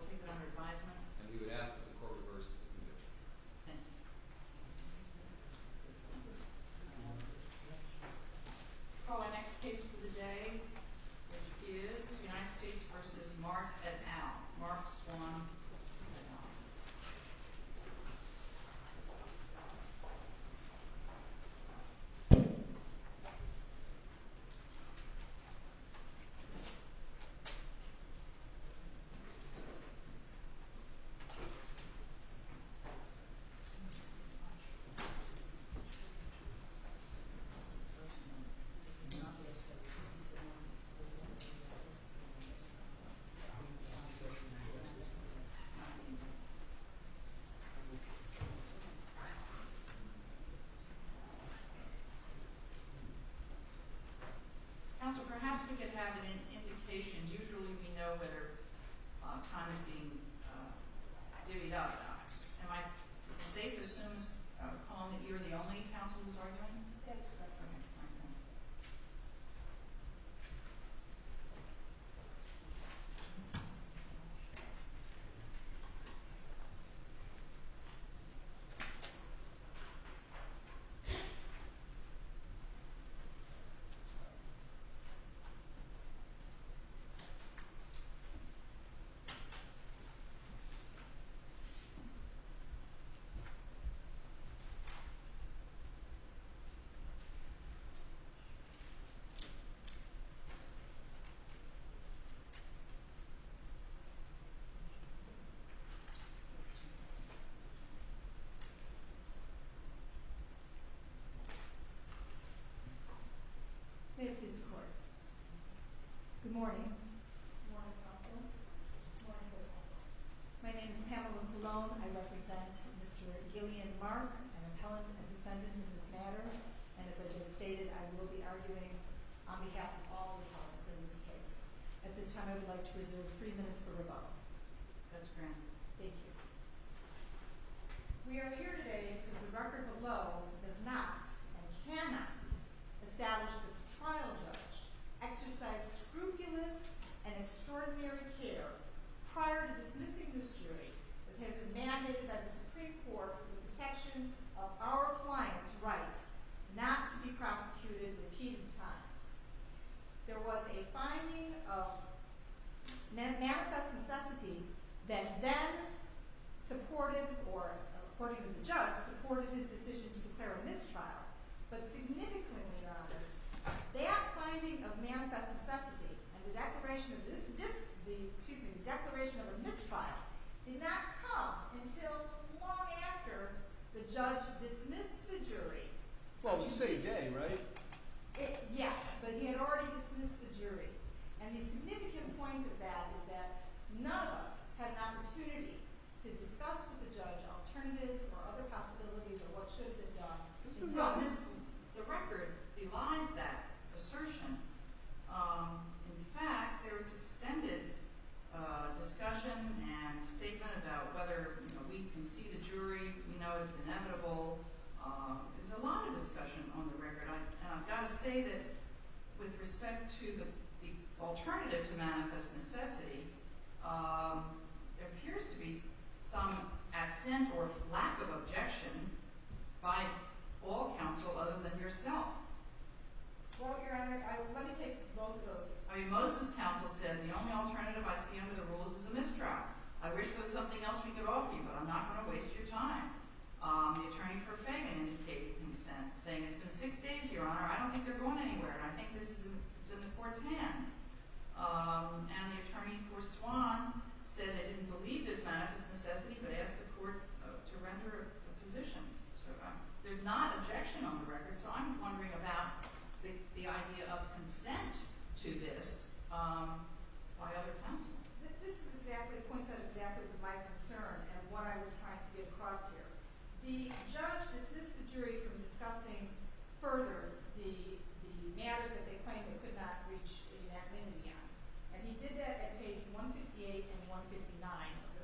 And we would ask that the court reverse the conviction. Thank you. Our next case for the day is United States v. Mark et al., Mark, Swan, et al. Mark et al. Counsel, perhaps we could have an indication. Usually we know whether time is being divvied up or not. Am I safe as soon as I recall that you are the only counsel who is arguing? Yes. Thank you, Mr. Court. Good morning. Good morning, counsel. Good morning, counsel. My name is Pamela Cologne. I represent Mr. Gillian Mark, an appellant and defendant in this matter. And as I just stated, I will be arguing on behalf of all the parties in this case. At this time, I would like to reserve three minutes for rebuttal. That's grand. Thank you. We are here today because the record below does not and cannot establish that the trial judge exercised scrupulous and extraordinary care prior to dismissing this jury, as has been mandated by the Supreme Court for the protection of our client's right not to be prosecuted in repeated times. There was a finding of manifest necessity that then supported, or according to the judge, supported his decision to declare a mistrial. But significantly, Your Honors, that finding of manifest necessity and the declaration of a mistrial did not come until long after the judge dismissed the jury. Well, the same day, right? Yes, but he had already dismissed the jury. And the significant point of that is that none of us had an opportunity to discuss with the judge alternatives or other possibilities or what should have been done. The record belies that assertion. In fact, there is extended discussion and statement about whether we can see the jury. We know it's inevitable. There's a lot of discussion on the record, and I've got to say that with respect to the alternative to manifest necessity, there appears to be some assent or lack of objection by all counsel other than yourself. Well, Your Honor, let me take both of those. I mean, Moses's counsel said the only alternative I see under the rules is a mistrial. I wish there was something else we could offer you, but I'm not going to waste your time. The attorney for Fagan indicated consent, saying it's been six days, Your Honor. I don't think they're going anywhere, and I think this is in the court's hands. And the attorney for Swan said they didn't believe this manifest necessity, but asked the court to render a position. There's not objection on the record, so I'm wondering about the idea of consent to this by other counsel. This is exactly – points out exactly my concern and what I was trying to get across here. The judge dismissed the jury from discussing further the matters that they claimed they could not reach a unanimity on, and he did that at page 158 and 159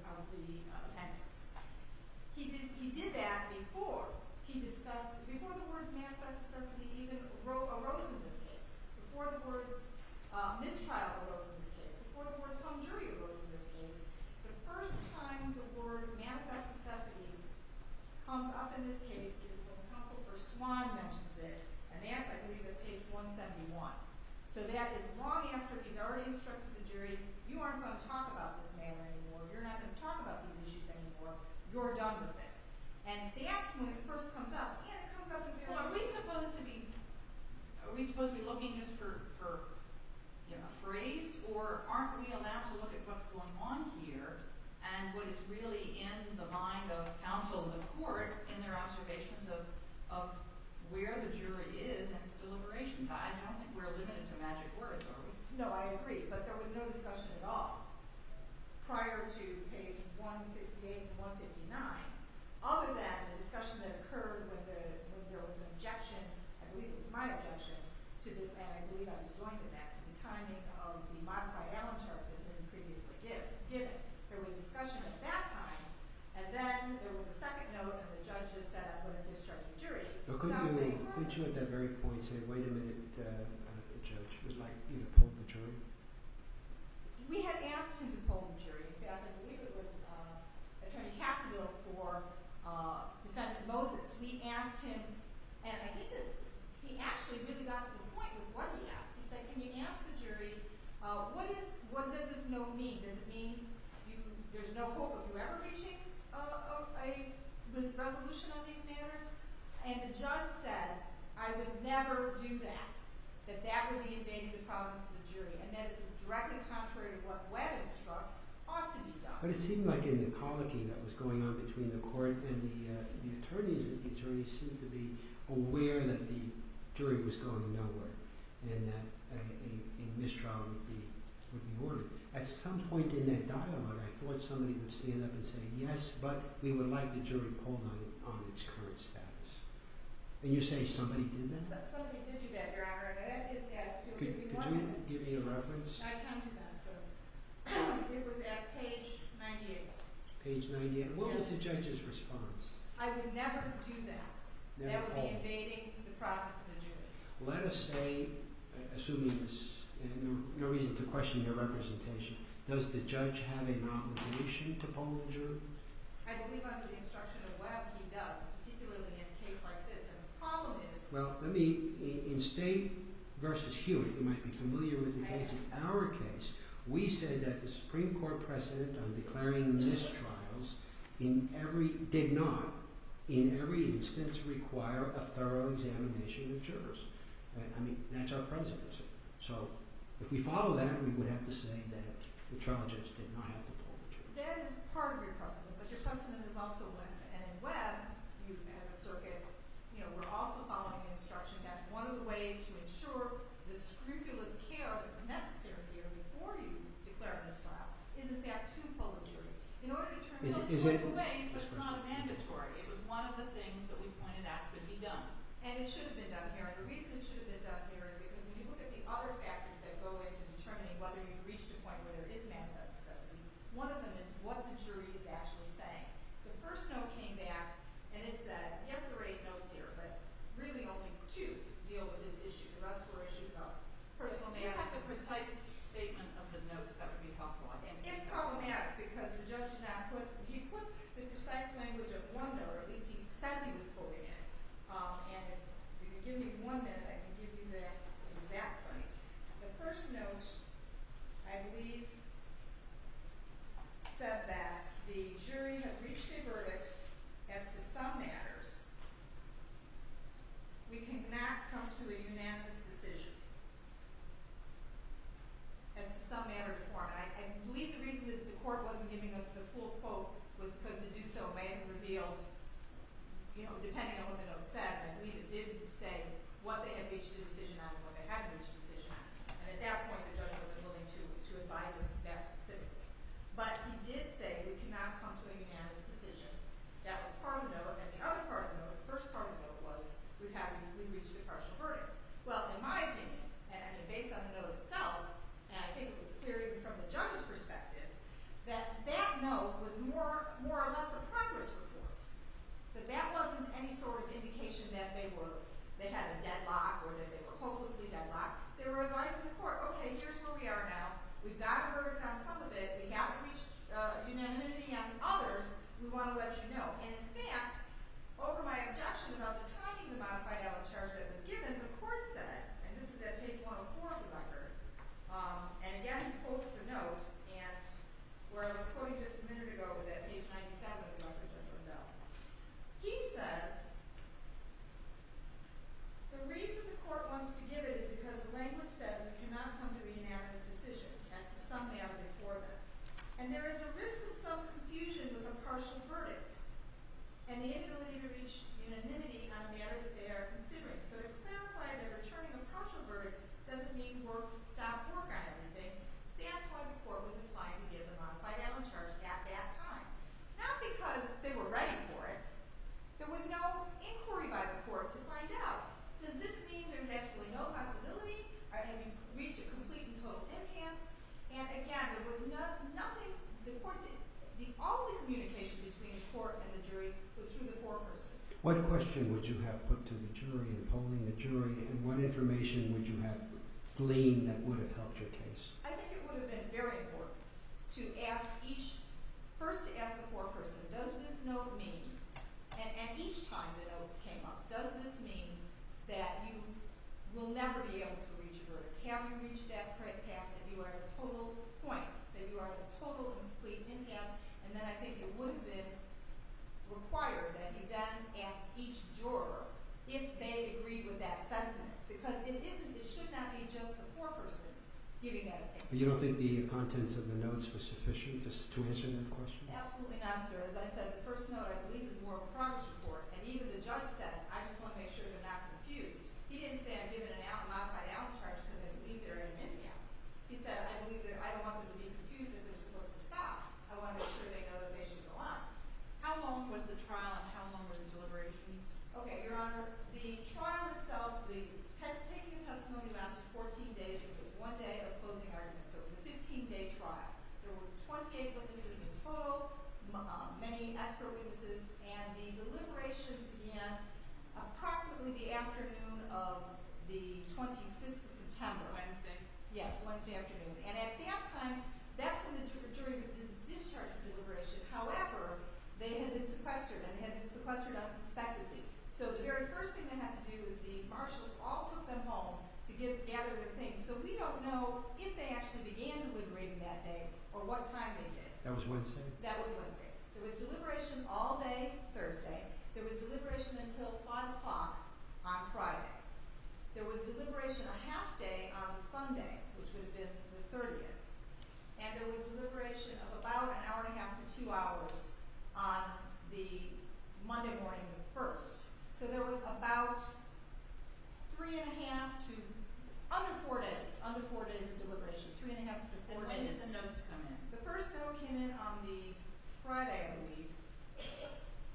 of the appendix. He did that before he discussed – before the words manifest necessity even arose in this case, before the words mistrial arose in this case, before the words home jury arose in this case. The first time the word manifest necessity comes up in this case is when the counsel for Swan mentions it, and that's, I believe, at page 171. So that is long after he's already instructed the jury, you aren't going to talk about this matter anymore, you're not going to talk about these issues anymore, you're done with it. And they ask when it first comes up, well, are we supposed to be looking just for a phrase, or aren't we allowed to look at what's going on here and what is really in the mind of counsel in the court in their observations of where the jury is and its deliberations? I don't think we're limited to magic words, are we? No, I agree, but there was no discussion at all prior to page 158 and 159. Other than the discussion that occurred when there was an objection, I believe it was my objection, and I believe I was joined in that, to the timing of the modified Allen charge that had been previously given. There was discussion at that time, and then there was a second note and the judge just said I'm going to instruct the jury. Could you at that very point say, wait a minute, judge, would you like to poll the jury? We had asked him to poll the jury. In fact, I believe it was Attorney Capito for Defendant Moses. We asked him, and I think he actually really got to the point with what he asked. He said, can you ask the jury what does this note mean? Does it mean there's no hope of you ever reaching a resolution on these matters? And the judge said, I would never do that, that that would be invading the problems of the jury, and that is directly contrary to what Webb instructs ought to be done. But it seemed like in the colloquy that was going on between the court and the attorneys, that the attorneys seemed to be aware that the jury was going nowhere and that a mistrial would be ordered. At some point in that dialogue, I thought somebody would stand up and say, yes, but we would like the jury polled on its current status. And you say somebody did that? Somebody did do that, Your Honor. Could you give me a reference? I can't do that, sir. It was at page 98. Page 98. What was the judge's response? I would never do that. That would be invading the problems of the jury. Let us say, assuming there's no reason to question your representation, does the judge have a non-resolution to polling the jury? I believe under the instruction of Webb, he does, particularly in a case like this. And the problem is... Well, let me, in State v. Hewitt, you might be familiar with the case. In our case, we said that the Supreme Court precedent on declaring mistrials in every, did not, in every instance, require a thorough examination of jurors. I mean, that's our precedent. So, if we follow that, we would have to say that the trial judge did not have to poll the jury. That is part of your precedent, but your precedent is also Webb. And in Webb, you, as a circuit, you know, we're also following the instruction that one of the ways to ensure the scrupulous care, the necessary care, before you declare a mistrial is, in fact, to poll the jury. In order to turn it into two ways, but it's not mandatory. It was one of the things that we pointed out could be done. And it should have been done, Your Honor. The reason it should have been done, Your Honor, is because when you look at the other factors that go into determining whether you've reached a point where there is manifest necessity, one of them is what the jury is actually saying. The first note came back, and it said, yes, there are eight notes here, but really only two deal with this issue. The rest were issues about personal matters. If you have a precise statement of the notes, that would be helpful. And it's problematic because the judge did not put, he put the precise language of one note, or at least he says he was quoting it. And if you could give me one minute, I can give you the exact site. The first note, I believe, said that the jury had reached a verdict as to some matters. We cannot come to a unanimous decision as to some matter before. I believe the reason that the court wasn't giving us the full quote was because the do-so-may-have-been-revealed depending on what the note said. And we did say what they had reached a decision on and what they hadn't reached a decision on. And at that point, the judge wasn't willing to advise us that specifically. But he did say we cannot come to a unanimous decision. That was part of the note. And the other part of the note, the first part of the note, was we reached a partial verdict. Well, in my opinion, and based on the note itself, and I think it was clear even from the judge's perspective, that that note was more or less a progress report. That that wasn't any sort of indication that they had a deadlock or that they were hopelessly deadlocked. They were advising the court, okay, here's where we are now. We've got a verdict on some of it. We haven't reached a unanimity on others. We want to let you know. And, in fact, over my objection about the timing of the modified ad hoc charge that was given, the court said, and this is at page 104 of the record, and, again, he quotes the note, and where I was quoting just a minute ago, it was at page 97 of the record. He says, the reason the court wants to give it is because the language says we cannot come to a unanimous decision. That's the summary of the report. And there is a risk of some confusion with a partial verdict and the inability to reach unanimity on a matter that they are considering. So to clarify that a returning a partial verdict doesn't mean stop work on everything, that's why the court was inclined to give a modified ad hoc charge at that time, not because they were ready for it. There was no inquiry by the court to find out, does this mean there's actually no possibility of having reached a complete and total impasse? And, again, there was nothing the court did. All the communication between the court and the jury was through the court person. What question would you have put to the jury in polling the jury, and what information would you have gleaned that would have helped your case? I think it would have been very important to ask each, first to ask the court person, does this note mean, and each time the notes came up, does this mean that you will never be able to reach a verdict? Have you reached that pass that you are at a total point, that you are at a total, complete impasse? And then I think it would have been required that you then ask each juror if they agree with that sentence, because it should not be just the court person giving that opinion. You don't think the contents of the notes were sufficient to answer that question? Absolutely not, sir. As I said, the first note I believe is more of a promise report, and even the judge said, I just want to make sure they're not confused. He didn't say I'm giving a modified out charge because I believe they're at an impasse. He said, I don't want them to be confused if they're supposed to stop. I want to make sure they know that they should go on. How long was the trial and how long were the deliberations? Okay, Your Honor, the trial itself, the taking of testimony lasted 14 days, which was one day of closing arguments. So it was a 15-day trial. There were 28 witnesses in total, many expert witnesses, and the deliberations began approximately the afternoon of the 26th of September. Wednesday? Yes, Wednesday afternoon. And at that time, that's when the jury was discharged from deliberation. However, they had been sequestered, and they had been sequestered unsuspectingly. So the very first thing they had to do, the marshals all took them home to gather their things. So we don't know if they actually began deliberating that day or what time they did. That was Wednesday? That was Wednesday. There was deliberation all day Thursday. There was deliberation until 5 o'clock on Friday. There was deliberation a half day on Sunday, which would have been the 30th. And there was deliberation of about an hour and a half to two hours on the Monday morning of the 1st. So there was about three and a half to under four days, under four days of deliberation. Three and a half to four days. And when did the notes come in? The first note came in on the Friday, I believe.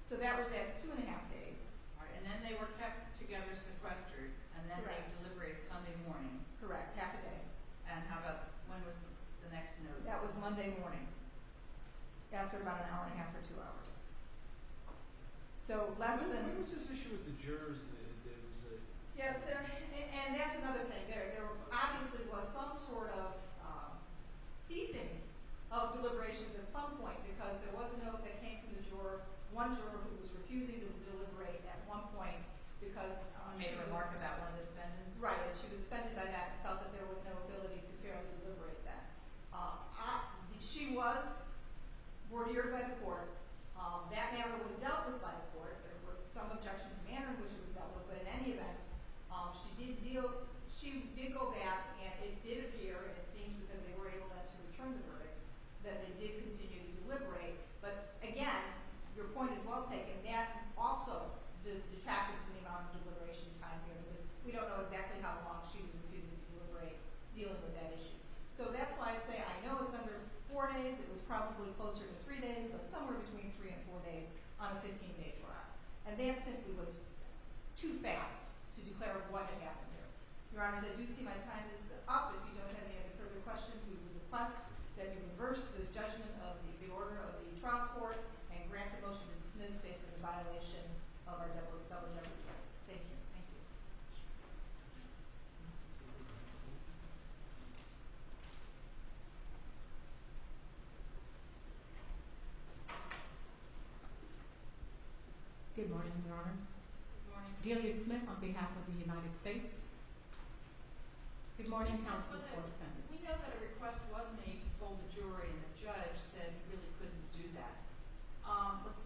So that was at two and a half days. And then they were kept together, sequestered, and then they deliberated Sunday morning. Correct, half a day. And how about when was the next note? That was Monday morning, after about an hour and a half to two hours. So less than— There was this issue with the jurors that there was a— Yes, and that's another thing. There obviously was some sort of ceasing of deliberations at some point, because there was a note that came from the juror. One juror who was refusing to deliberate at one point because— She made a remark about one of the defendants. Right, and she was offended by that and felt that there was no ability to fairly deliberate that. She was brought here by the court. That matter was dealt with by the court. There were some objections to the matter in which it was dealt with. But in any event, she did deal—she did go back, and it did appear, and it seemed that they were able to return the verdict, that they did continue to deliberate. But again, your point is well taken. That also detracted from the amount of deliberation time there, because we don't know exactly how long she was refusing to deliberate dealing with that issue. So that's why I say I know it was under four days. It was probably closer to three days, but somewhere between three and four days on a 15-day trial. And that simply was too fast to declare what had happened there. Your Honors, I do see my time is up. If you don't have any further questions, we would request that you reverse the judgment of the order of the trial court and grant the motion to dismiss based on the violation of our double general clause. Thank you. Good morning, Your Honors. Good morning. Delia Smith on behalf of the United States. Good morning, counsels or defendants. We know that a request was made to pull the jury, and the judge said he really couldn't do that. Was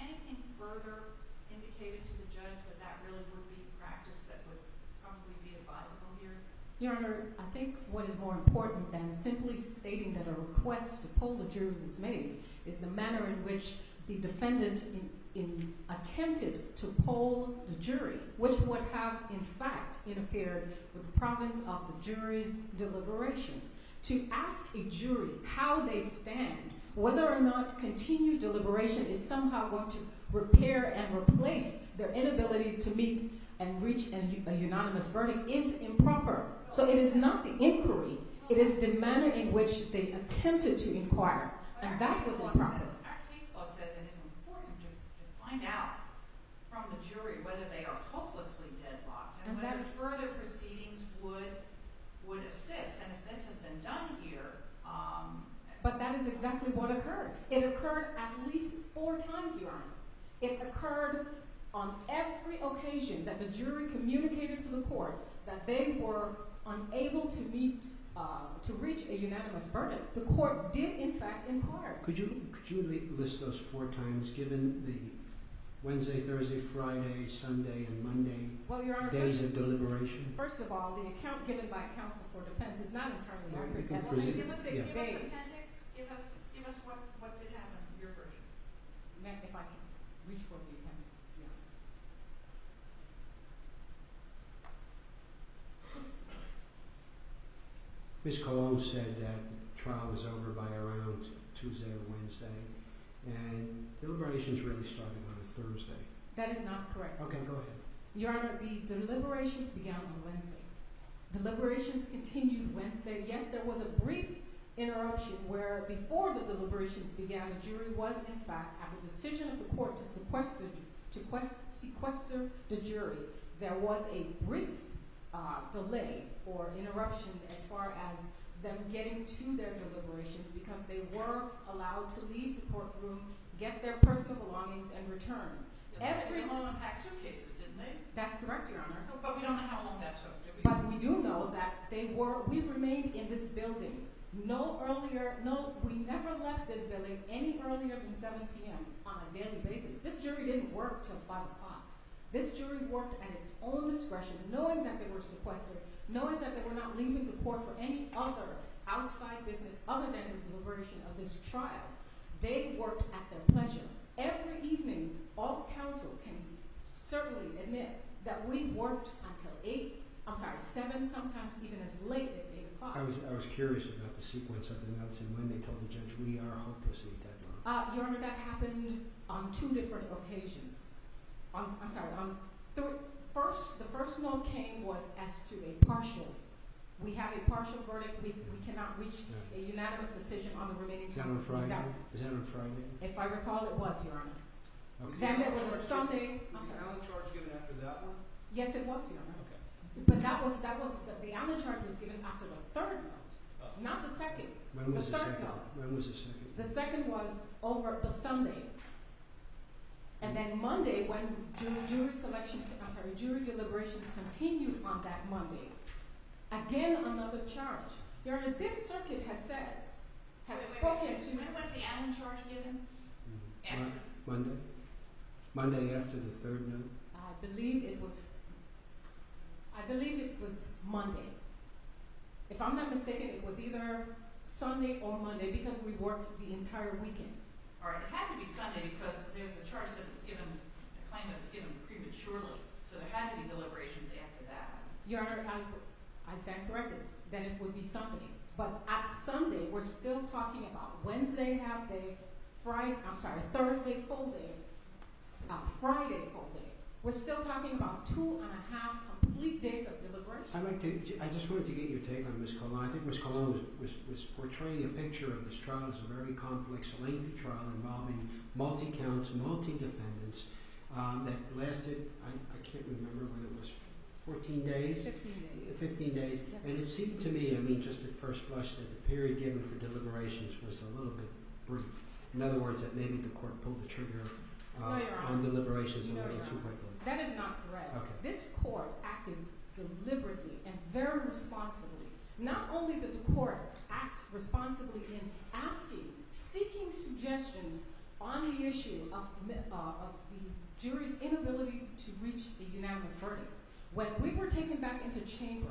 anything further indicated to the judge that that really would be a practice that would probably be advisable here? Your Honor, I think what is more important than simply stating that a request to pull the jury was made is the manner in which the defendant attempted to pull the jury, which would have, in fact, interfered with the province of the jury's deliberation. To ask a jury how they stand, whether or not continued deliberation is somehow going to repair and replace their inability to meet and reach a unanimous verdict is improper. So it is not the inquiry. It is the manner in which they attempted to inquire. And that's what's wrong. Our case law says it is important to find out from the jury whether they are hopelessly deadlocked and whether further proceedings would assist. And if this has been done here— But that is exactly what occurred. It occurred at least four times, Your Honor. It occurred on every occasion that the jury communicated to the court that they were unable to reach a unanimous verdict. But the court did, in fact, inquire. Could you list those four times, given the Wednesday, Thursday, Friday, Sunday, and Monday days of deliberation? First of all, the account given by counsel for defense is not entirely accurate. Can you give us the appendix? Give us what did happen, your version. If I can reach for the appendix. Ms. Colón said that trial was over by around Tuesday or Wednesday, and deliberations really started on a Thursday. That is not correct. Okay, go ahead. Your Honor, the deliberations began on Wednesday. Deliberations continued Wednesday. And, yes, there was a brief interruption where, before the deliberations began, the jury was, in fact, at the decision of the court to sequester the jury. There was a brief delay or interruption as far as them getting to their deliberations because they were allowed to leave the courtroom, get their personal belongings, and return. They all had suitcases, didn't they? That's correct, Your Honor. But we don't know how long that took, do we? But we do know that they were—we remained in this building no earlier—no, we never left this building any earlier than 7 p.m. on a daily basis. This jury didn't work till 5 o'clock. This jury worked at its own discretion, knowing that they were sequestered, knowing that they were not leaving the court for any other outside business other than the deliberation of this trial. They worked at their pleasure. Every evening, all counsel can certainly admit that we worked until 8—I'm sorry, 7, sometimes even as late as 8 o'clock. I was curious about the sequence of the notes and when they told the judge, we are hopelessly dead wrong. Your Honor, that happened on two different occasions. I'm sorry, on—the first note came was as to a partial—we have a partial verdict. We cannot reach a unanimous decision on the remaining— Is that on Friday? Is that on Friday? If I recall, it was, Your Honor. Okay. Then there was a Sunday— Was the Allen charge given after that one? Yes, it was, Your Honor. Okay. But that was—the Allen charge was given after the third note, not the second. When was the second? The third note. When was the second? The second was over the Sunday. And then Monday, when jury selection—I'm sorry, jury deliberations continued on that Monday. Again, another charge. Your Honor, this circuit has said—has spoken to— After? Monday. Monday after the third note. I believe it was—I believe it was Monday. If I'm not mistaken, it was either Sunday or Monday because we worked the entire weekend. All right. It had to be Sunday because there's a charge that was given—a claim that was given prematurely, so there had to be deliberations after that. Your Honor, I stand corrected that it would be Sunday. But at Sunday, we're still talking about Wednesday half-day, Thursday full-day, Friday full-day. We're still talking about two-and-a-half complete days of deliberations. I'd like to—I just wanted to get your take on Ms. Colon. I think Ms. Colon was portraying a picture of this trial as a very complex, lengthy trial involving multi-counts, multi-defendants that lasted—I can't remember when it was—14 days? 15 days. 15 days. And it seemed to me, I mean just at first blush, that the period given for deliberations was a little bit brief. In other words, that maybe the court pulled the trigger on deliberations a little too quickly. No, Your Honor. That is not correct. This court acted deliberately and very responsibly. Not only did the court act responsibly in asking, seeking suggestions on the issue of the jury's inability to reach a unanimous verdict. When we were taken back into chamber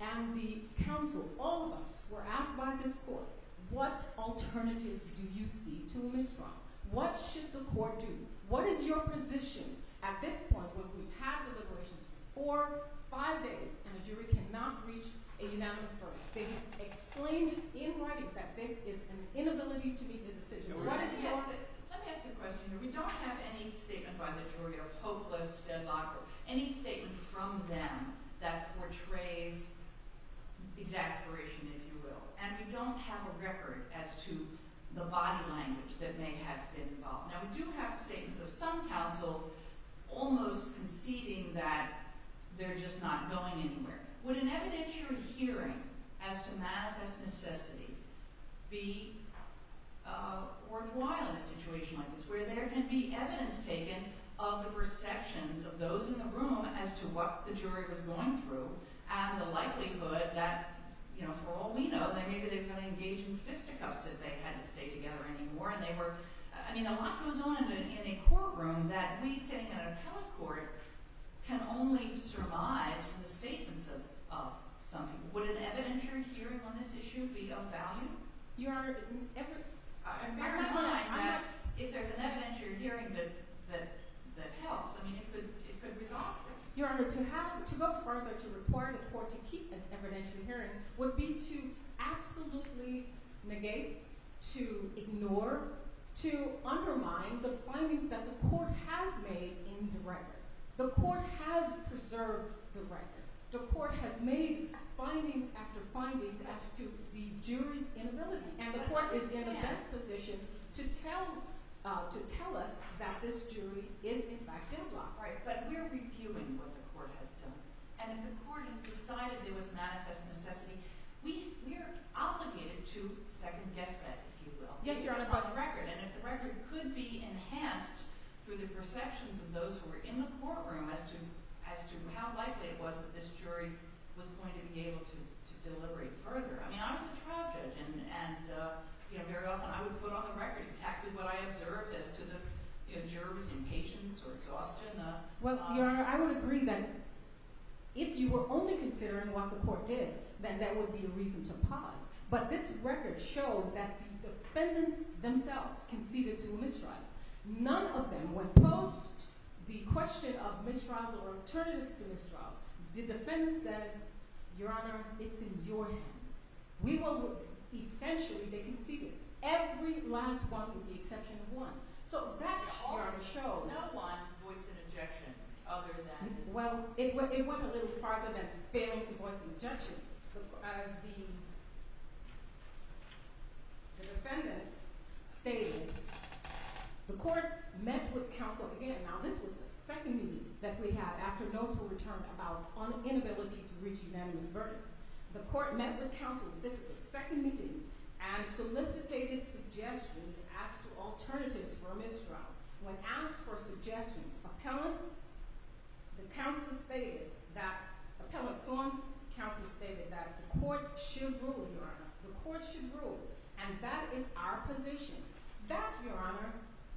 and the counsel, all of us, were asked by this court, what alternatives do you see to a misdemeanor? What should the court do? What is your position at this point where we've had deliberations for five days and the jury cannot reach a unanimous verdict? They explained in writing that this is an inability to make a decision. What is your— Let me ask you a question here. We don't have any statement by the jury of hopeless deadlock or any statement from them that portrays exasperation, if you will. And we don't have a record as to the body language that may have been involved. Now, we do have statements of some counsel almost conceding that they're just not going anywhere. Would an evidentiary hearing as to manifest necessity be worthwhile in a situation like this, where there can be evidence taken of the perceptions of those in the room as to what the jury was going through and the likelihood that, you know, for all we know, maybe they're going to engage in fisticuffs if they had to stay together anymore. And they were—I mean, a lot goes on in a courtroom that we sitting in an appellate court can only surmise from the statements of some people. Would an evidentiary hearing on this issue be of value? Your Honor— I'm very inclined that if there's an evidentiary hearing that helps, I mean, it could resolve this. Your Honor, to go further to require the court to keep an evidentiary hearing would be to absolutely negate, to ignore, to undermine the findings that the court has made in the record. The court has preserved the record. The court has made findings after findings as to the jury's inability. And the court is in a best position to tell us that this jury is, in fact, deadlocked. All right, but we're reviewing what the court has done. And if the court has decided there was manifest necessity, we are obligated to second-guess that, if you will. Yes, Your Honor. And if the record could be enhanced through the perceptions of those who were in the courtroom as to how likely it was that this jury was going to be able to deliberate further. I mean, I was a trial judge, and, you know, very often I would put on the record exactly what I observed as to the jurors' impatience or exhaustion. Well, Your Honor, I would agree that if you were only considering what the court did, then that would be a reason to pause. But this record shows that the defendants themselves conceded to a mistrial. None of them, when posed the question of mistrials or alternatives to mistrials, the defendant says, Your Honor, it's in your hands. We will look at it. Essentially, they conceded. Every last one with the exception of one. So that, Your Honor, shows— No one voiced an objection other than— As the defendant stated, the court met with counsel again. Now, this was the second meeting that we had after notes were returned about inability to reach unanimous verdict. The court met with counsel. This is the second meeting, and solicitated suggestions as to alternatives for a mistrial. Now, when asked for suggestions, appellant, the counsel stated that—appellant Sloan, counsel stated that the court should rule, Your Honor. The court should rule, and that is our position. That, Your Honor,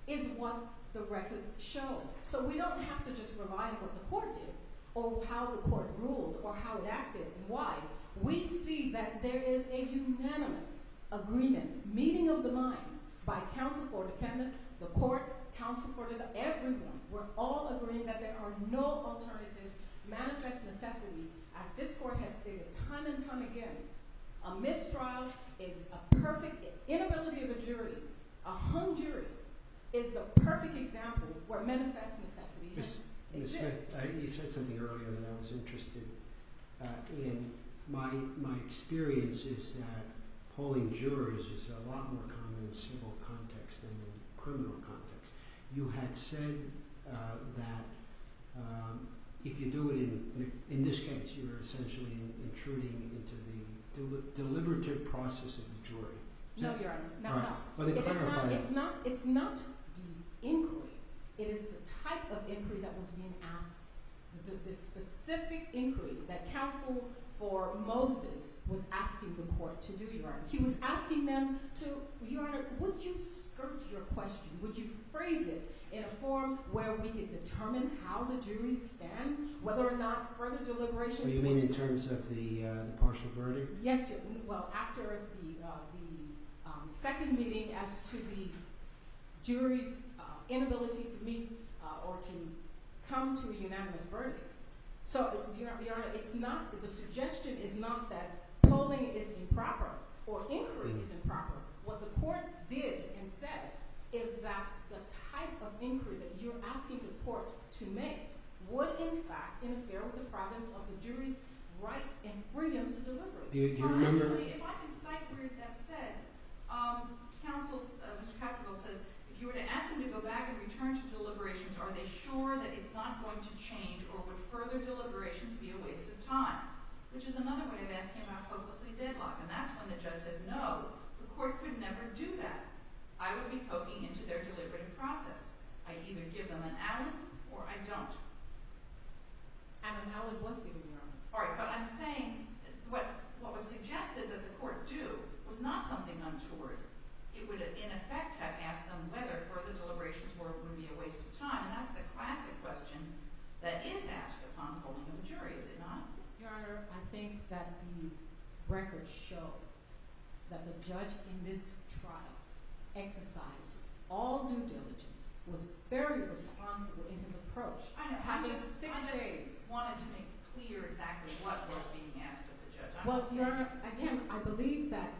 is what the record showed. So we don't have to just revive what the court did or how the court ruled or how it acted and why. We see that there is a unanimous agreement, meeting of the minds, by counsel for the defendant, the court, counsel for everyone. We're all agreeing that there are no alternatives, manifest necessity, as this court has stated time and time again. A mistrial is a perfect—inability of a jury, a hung jury, is the perfect example where manifest necessity exists. You said something earlier that I was interested in. My experience is that polling jurors is a lot more common in civil context than in criminal context. You had said that if you do it in—in this case, you're essentially intruding into the deliberative process of the jury. No, Your Honor. It's not—it's not the inquiry. It is the type of inquiry that was being asked, the specific inquiry that counsel for Moses was asking the court to do, Your Honor. He was asking them to—Your Honor, would you skirt your question? Would you phrase it in a form where we could determine how the juries stand, whether or not further deliberations— Oh, you mean in terms of the partial verdict? Yes, Your—well, after the second meeting as to the jury's inability to meet or to come to a unanimous verdict. So, Your Honor, it's not—the suggestion is not that polling is improper or inquiry is improper. What the court did and said is that the type of inquiry that you're asking the court to make would, in fact, interfere with the province of the jury's right and freedom to deliberate. Do you remember— Finally, if I can cite where that's said, counsel, Mr. Capito, said if you were to ask them to go back and return to deliberations, are they sure that it's not going to change or would further deliberations be a waste of time, which is another way of asking about hopelessly deadlocked, and that's when the judge says, no, the court could never do that. I would be poking into their deliberative process. I either give them an outing or I don't. An outing was given, Your Honor. All right, but I'm saying what was suggested that the court do was not something untoward. It would, in effect, have asked them whether further deliberations would be a waste of time, and that's the classic question that is asked upon polling of a jury, is it not? Your Honor, I think that the record shows that the judge in this trial exercised all due diligence, was very responsible in his approach. I just wanted to make clear exactly what was being asked of the judge. Well, Your Honor, again, I believe that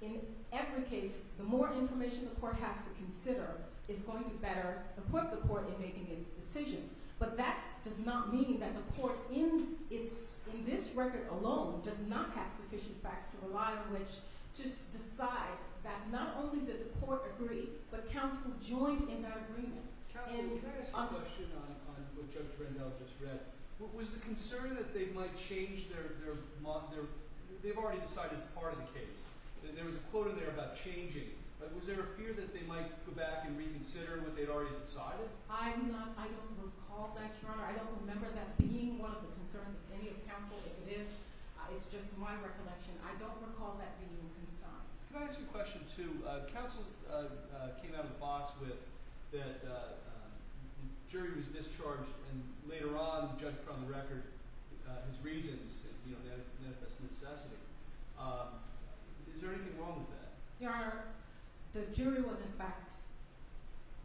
in every case, the more information the court has to consider is going to better equip the court in making its decision, but that does not mean that the court in this record alone does not have sufficient facts to rely on which to decide that not only did the court agree, but counsel joined in that agreement. Counsel, can I ask a question on what Judge Rendell just read? Was the concern that they might change their – they've already decided part of the case. There was a quote in there about changing. Was there a fear that they might go back and reconsider what they'd already decided? I'm not – I don't recall that, Your Honor. I don't remember that being one of the concerns of any of counsel. If it is, it's just my recollection. I don't recall that being a concern. Can I ask you a question, too? Counsel came out of the box with that the jury was discharged, and later on the judge put on the record his reasons and, you know, manifest necessity. Is there anything wrong with that? Your Honor, the jury was, in fact,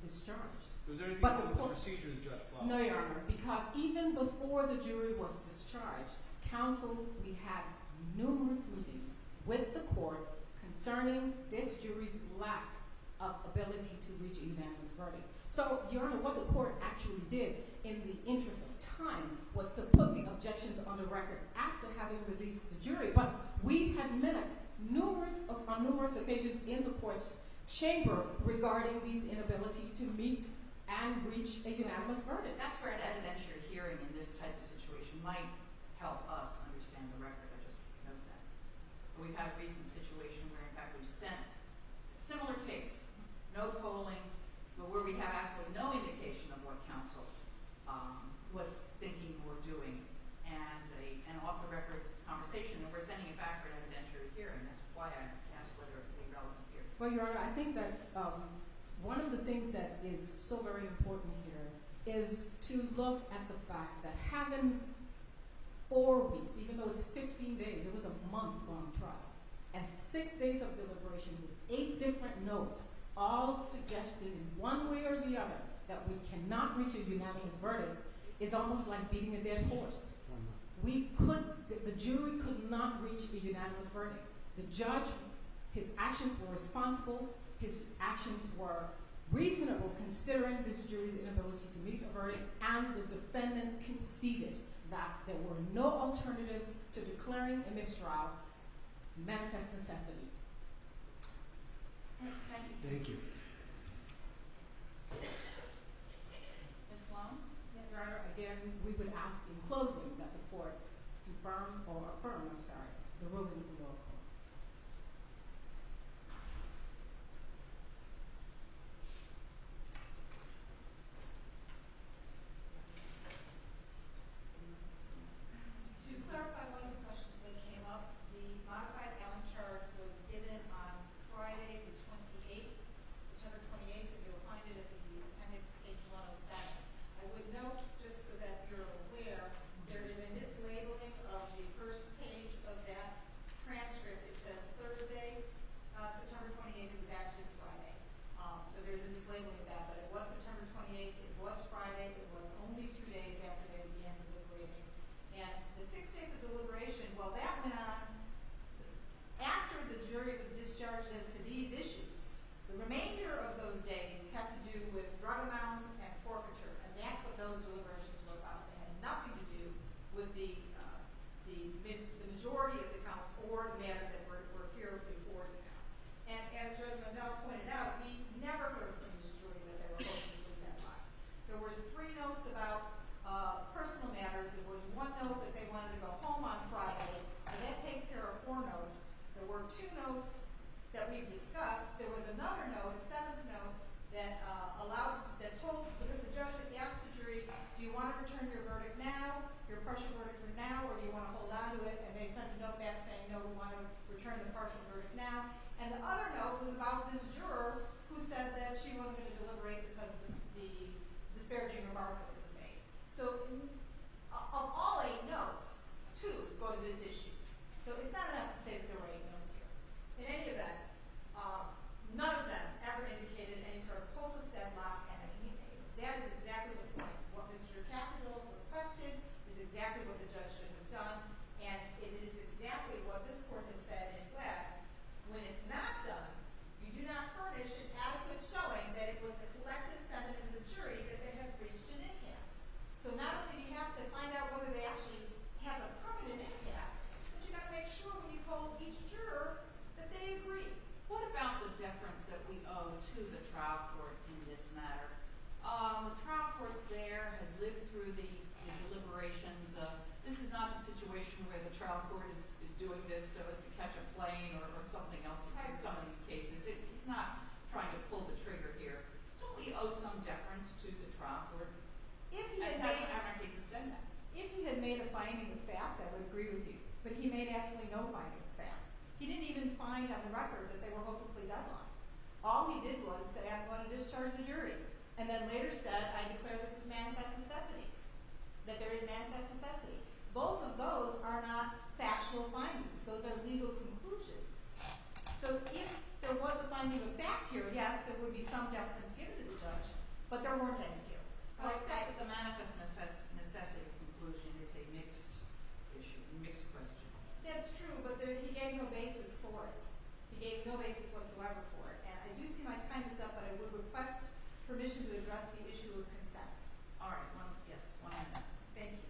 discharged. Was there anything wrong with the procedure that the judge followed? No, Your Honor, because even before the jury was discharged, counsel – we had numerous meetings with the court concerning this jury's lack of ability to reach a unanimous verdict. So, Your Honor, what the court actually did in the interest of time was to put the objections on the record after having released the jury. But we had met on numerous occasions in the court's chamber regarding these inability to meet and reach a unanimous verdict. That's where an evidentiary hearing in this type of situation might help us understand the record. I just note that. We've had a recent situation where, in fact, we've sent a similar case, no polling, but where we have absolutely no indication of what counsel was thinking or doing. And an off-the-record conversation, and we're sending it back for an evidentiary hearing. That's why I asked whether it would be relevant here. Well, Your Honor, I think that one of the things that is so very important here is to look at the fact that having four weeks – even though it's 15 days, it was a month long trial – and six days of deliberation with eight different notes all suggesting one way or the other that we cannot reach a unanimous verdict is almost like beating a dead horse. The jury could not reach a unanimous verdict. But the judge, his actions were responsible. His actions were reasonable considering this jury's inability to meet a verdict. And the defendant conceded that there were no alternatives to declaring a mistrial manifest necessity. Thank you. Thank you. Ms. Blum? Yes, Your Honor. Again, we would ask in closing that the court confirm or affirm – I'm sorry – the ruling of the lower court. To clarify one of the questions that came up, the modified gallant charge was given on Friday the 28th, September 28th, and you'll find it in the appendix, page 107. I would note, just so that you're aware, there is a mislabeling of the first page of that transcript. It says Thursday, September 28th. It was actually Friday. So there's a mislabeling of that. But it was September 28th. It was Friday. It was only two days after they began deliberating. And the six days of deliberation, while that went on, after the jury was discharged as to these issues, the remainder of those days had to do with drug amounts and forfeiture. And that's what those deliberations were about. It had nothing to do with the majority of the counts or the matters that were here before the count. And as Judge McDowell pointed out, we never heard from the jury that they were hoping to do that. There were three notes about personal matters. There was one note that they wanted to go home on Friday, and that takes care of four notes. There were two notes that we discussed. There was another note, a seventh note, that allowed – that told the judge to ask the jury, do you want to return your verdict now, your partial verdict for now, or do you want to hold on to it? And they sent a note back saying, no, we want to return the partial verdict now. And the other note was about this juror who said that she wasn't going to deliberate because of the disparaging remark that was made. So of all eight notes, two go to this issue. So it's not enough to say that there were eight notes here. In any event, none of them ever indicated any sort of hopeless deadlock at any date. That is exactly the point. What Mr. Capito requested is exactly what the judge should have done, and it is exactly what this court has said in effect. When it's not done, you do not furnish an adequate showing that it was the collective sentiment of the jury that they had reached an in-house. So not only do you have to find out whether they actually have a permanent in-house, but you've got to make sure when you call each juror that they agree. What about the deference that we owe to the trial court in this matter? The trial court there has lived through the deliberations of, this is not a situation where the trial court is doing this so as to catch a plane or something else. We've had some of these cases. It's not trying to pull the trigger here. Don't we owe some deference to the trial court? If he had made a finding of fact, I would agree with you, but he made absolutely no finding of fact. He didn't even find on the record that they were hopelessly deadlocked. All he did was say, I'm going to discharge the jury, and then later said, I declare this as manifest necessity, that there is manifest necessity. Both of those are not factual findings. Those are legal conclusions. So if there was a finding of fact here, yes, there would be some deference given to the judge, but there weren't, I think, here. I would say that the manifest necessity conclusion is a mixed issue, mixed question. That's true, but he gave no basis for it. He gave no basis whatsoever for it. And I do see my time is up, but I would request permission to address the issue of consent. All right, yes, one minute. Thank you.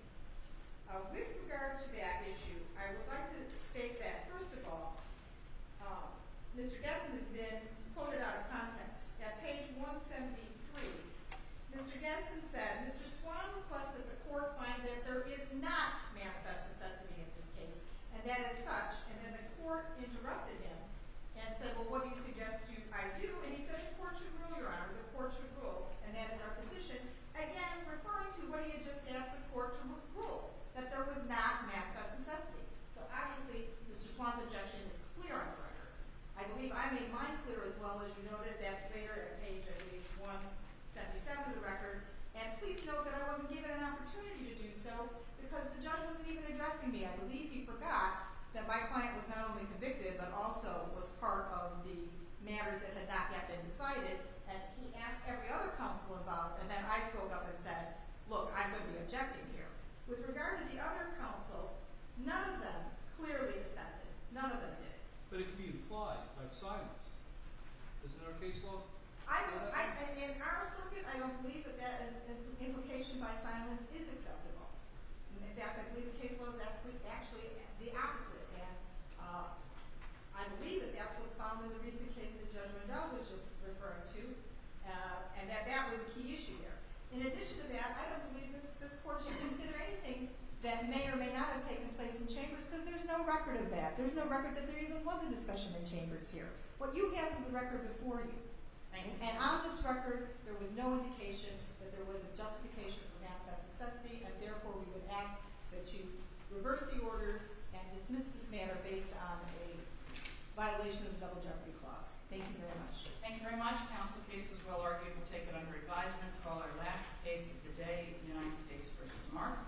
With regard to that issue, I would like to state that, first of all, Mr. Gessen has been quoted out of context. At page 173, Mr. Gessen said, Mr. Swan requested the court find that there is not manifest necessity in this case, and that is such. And then the court interrupted him and said, well, what do you suggest I do? And he said, the court should rule, Your Honor, the court should rule. And that is our position. Again, referring to what he had just asked the court to rule, that there was not manifest necessity. So obviously, Mr. Swan's objection is clear on the record. I believe I made mine clear as well, as you noted. That's there at page 177 of the record. And please note that I wasn't given an opportunity to do so because the judge wasn't even addressing me. I believe he forgot that my client was not only convicted but also was part of the matter that had not yet been decided. And he asked every other counsel about it, and then I spoke up and said, look, I'm going to be objecting here. With regard to the other counsel, none of them clearly accepted. None of them did. But it can be implied by silence. Is that our case law? In our circuit, I don't believe that that implication by silence is acceptable. In fact, I believe the case law is actually the opposite. And I believe that that's what's found in the recent case that Judge Riddell was just referring to, and that that was a key issue there. In addition to that, I don't believe this court should consider anything that may or may not have taken place in chambers because there's no record of that. There's no record that there even was a discussion in chambers here. What you have is the record before you. And on this record, there was no indication that there was a justification for manifest necessity, and therefore we would ask that you reverse the order and dismiss this matter based on a violation of the double jeopardy clause. Thank you very much. Thank you very much. The counsel case was well argued. We'll take it under advisement to call our last case of the day, United States v. Mark.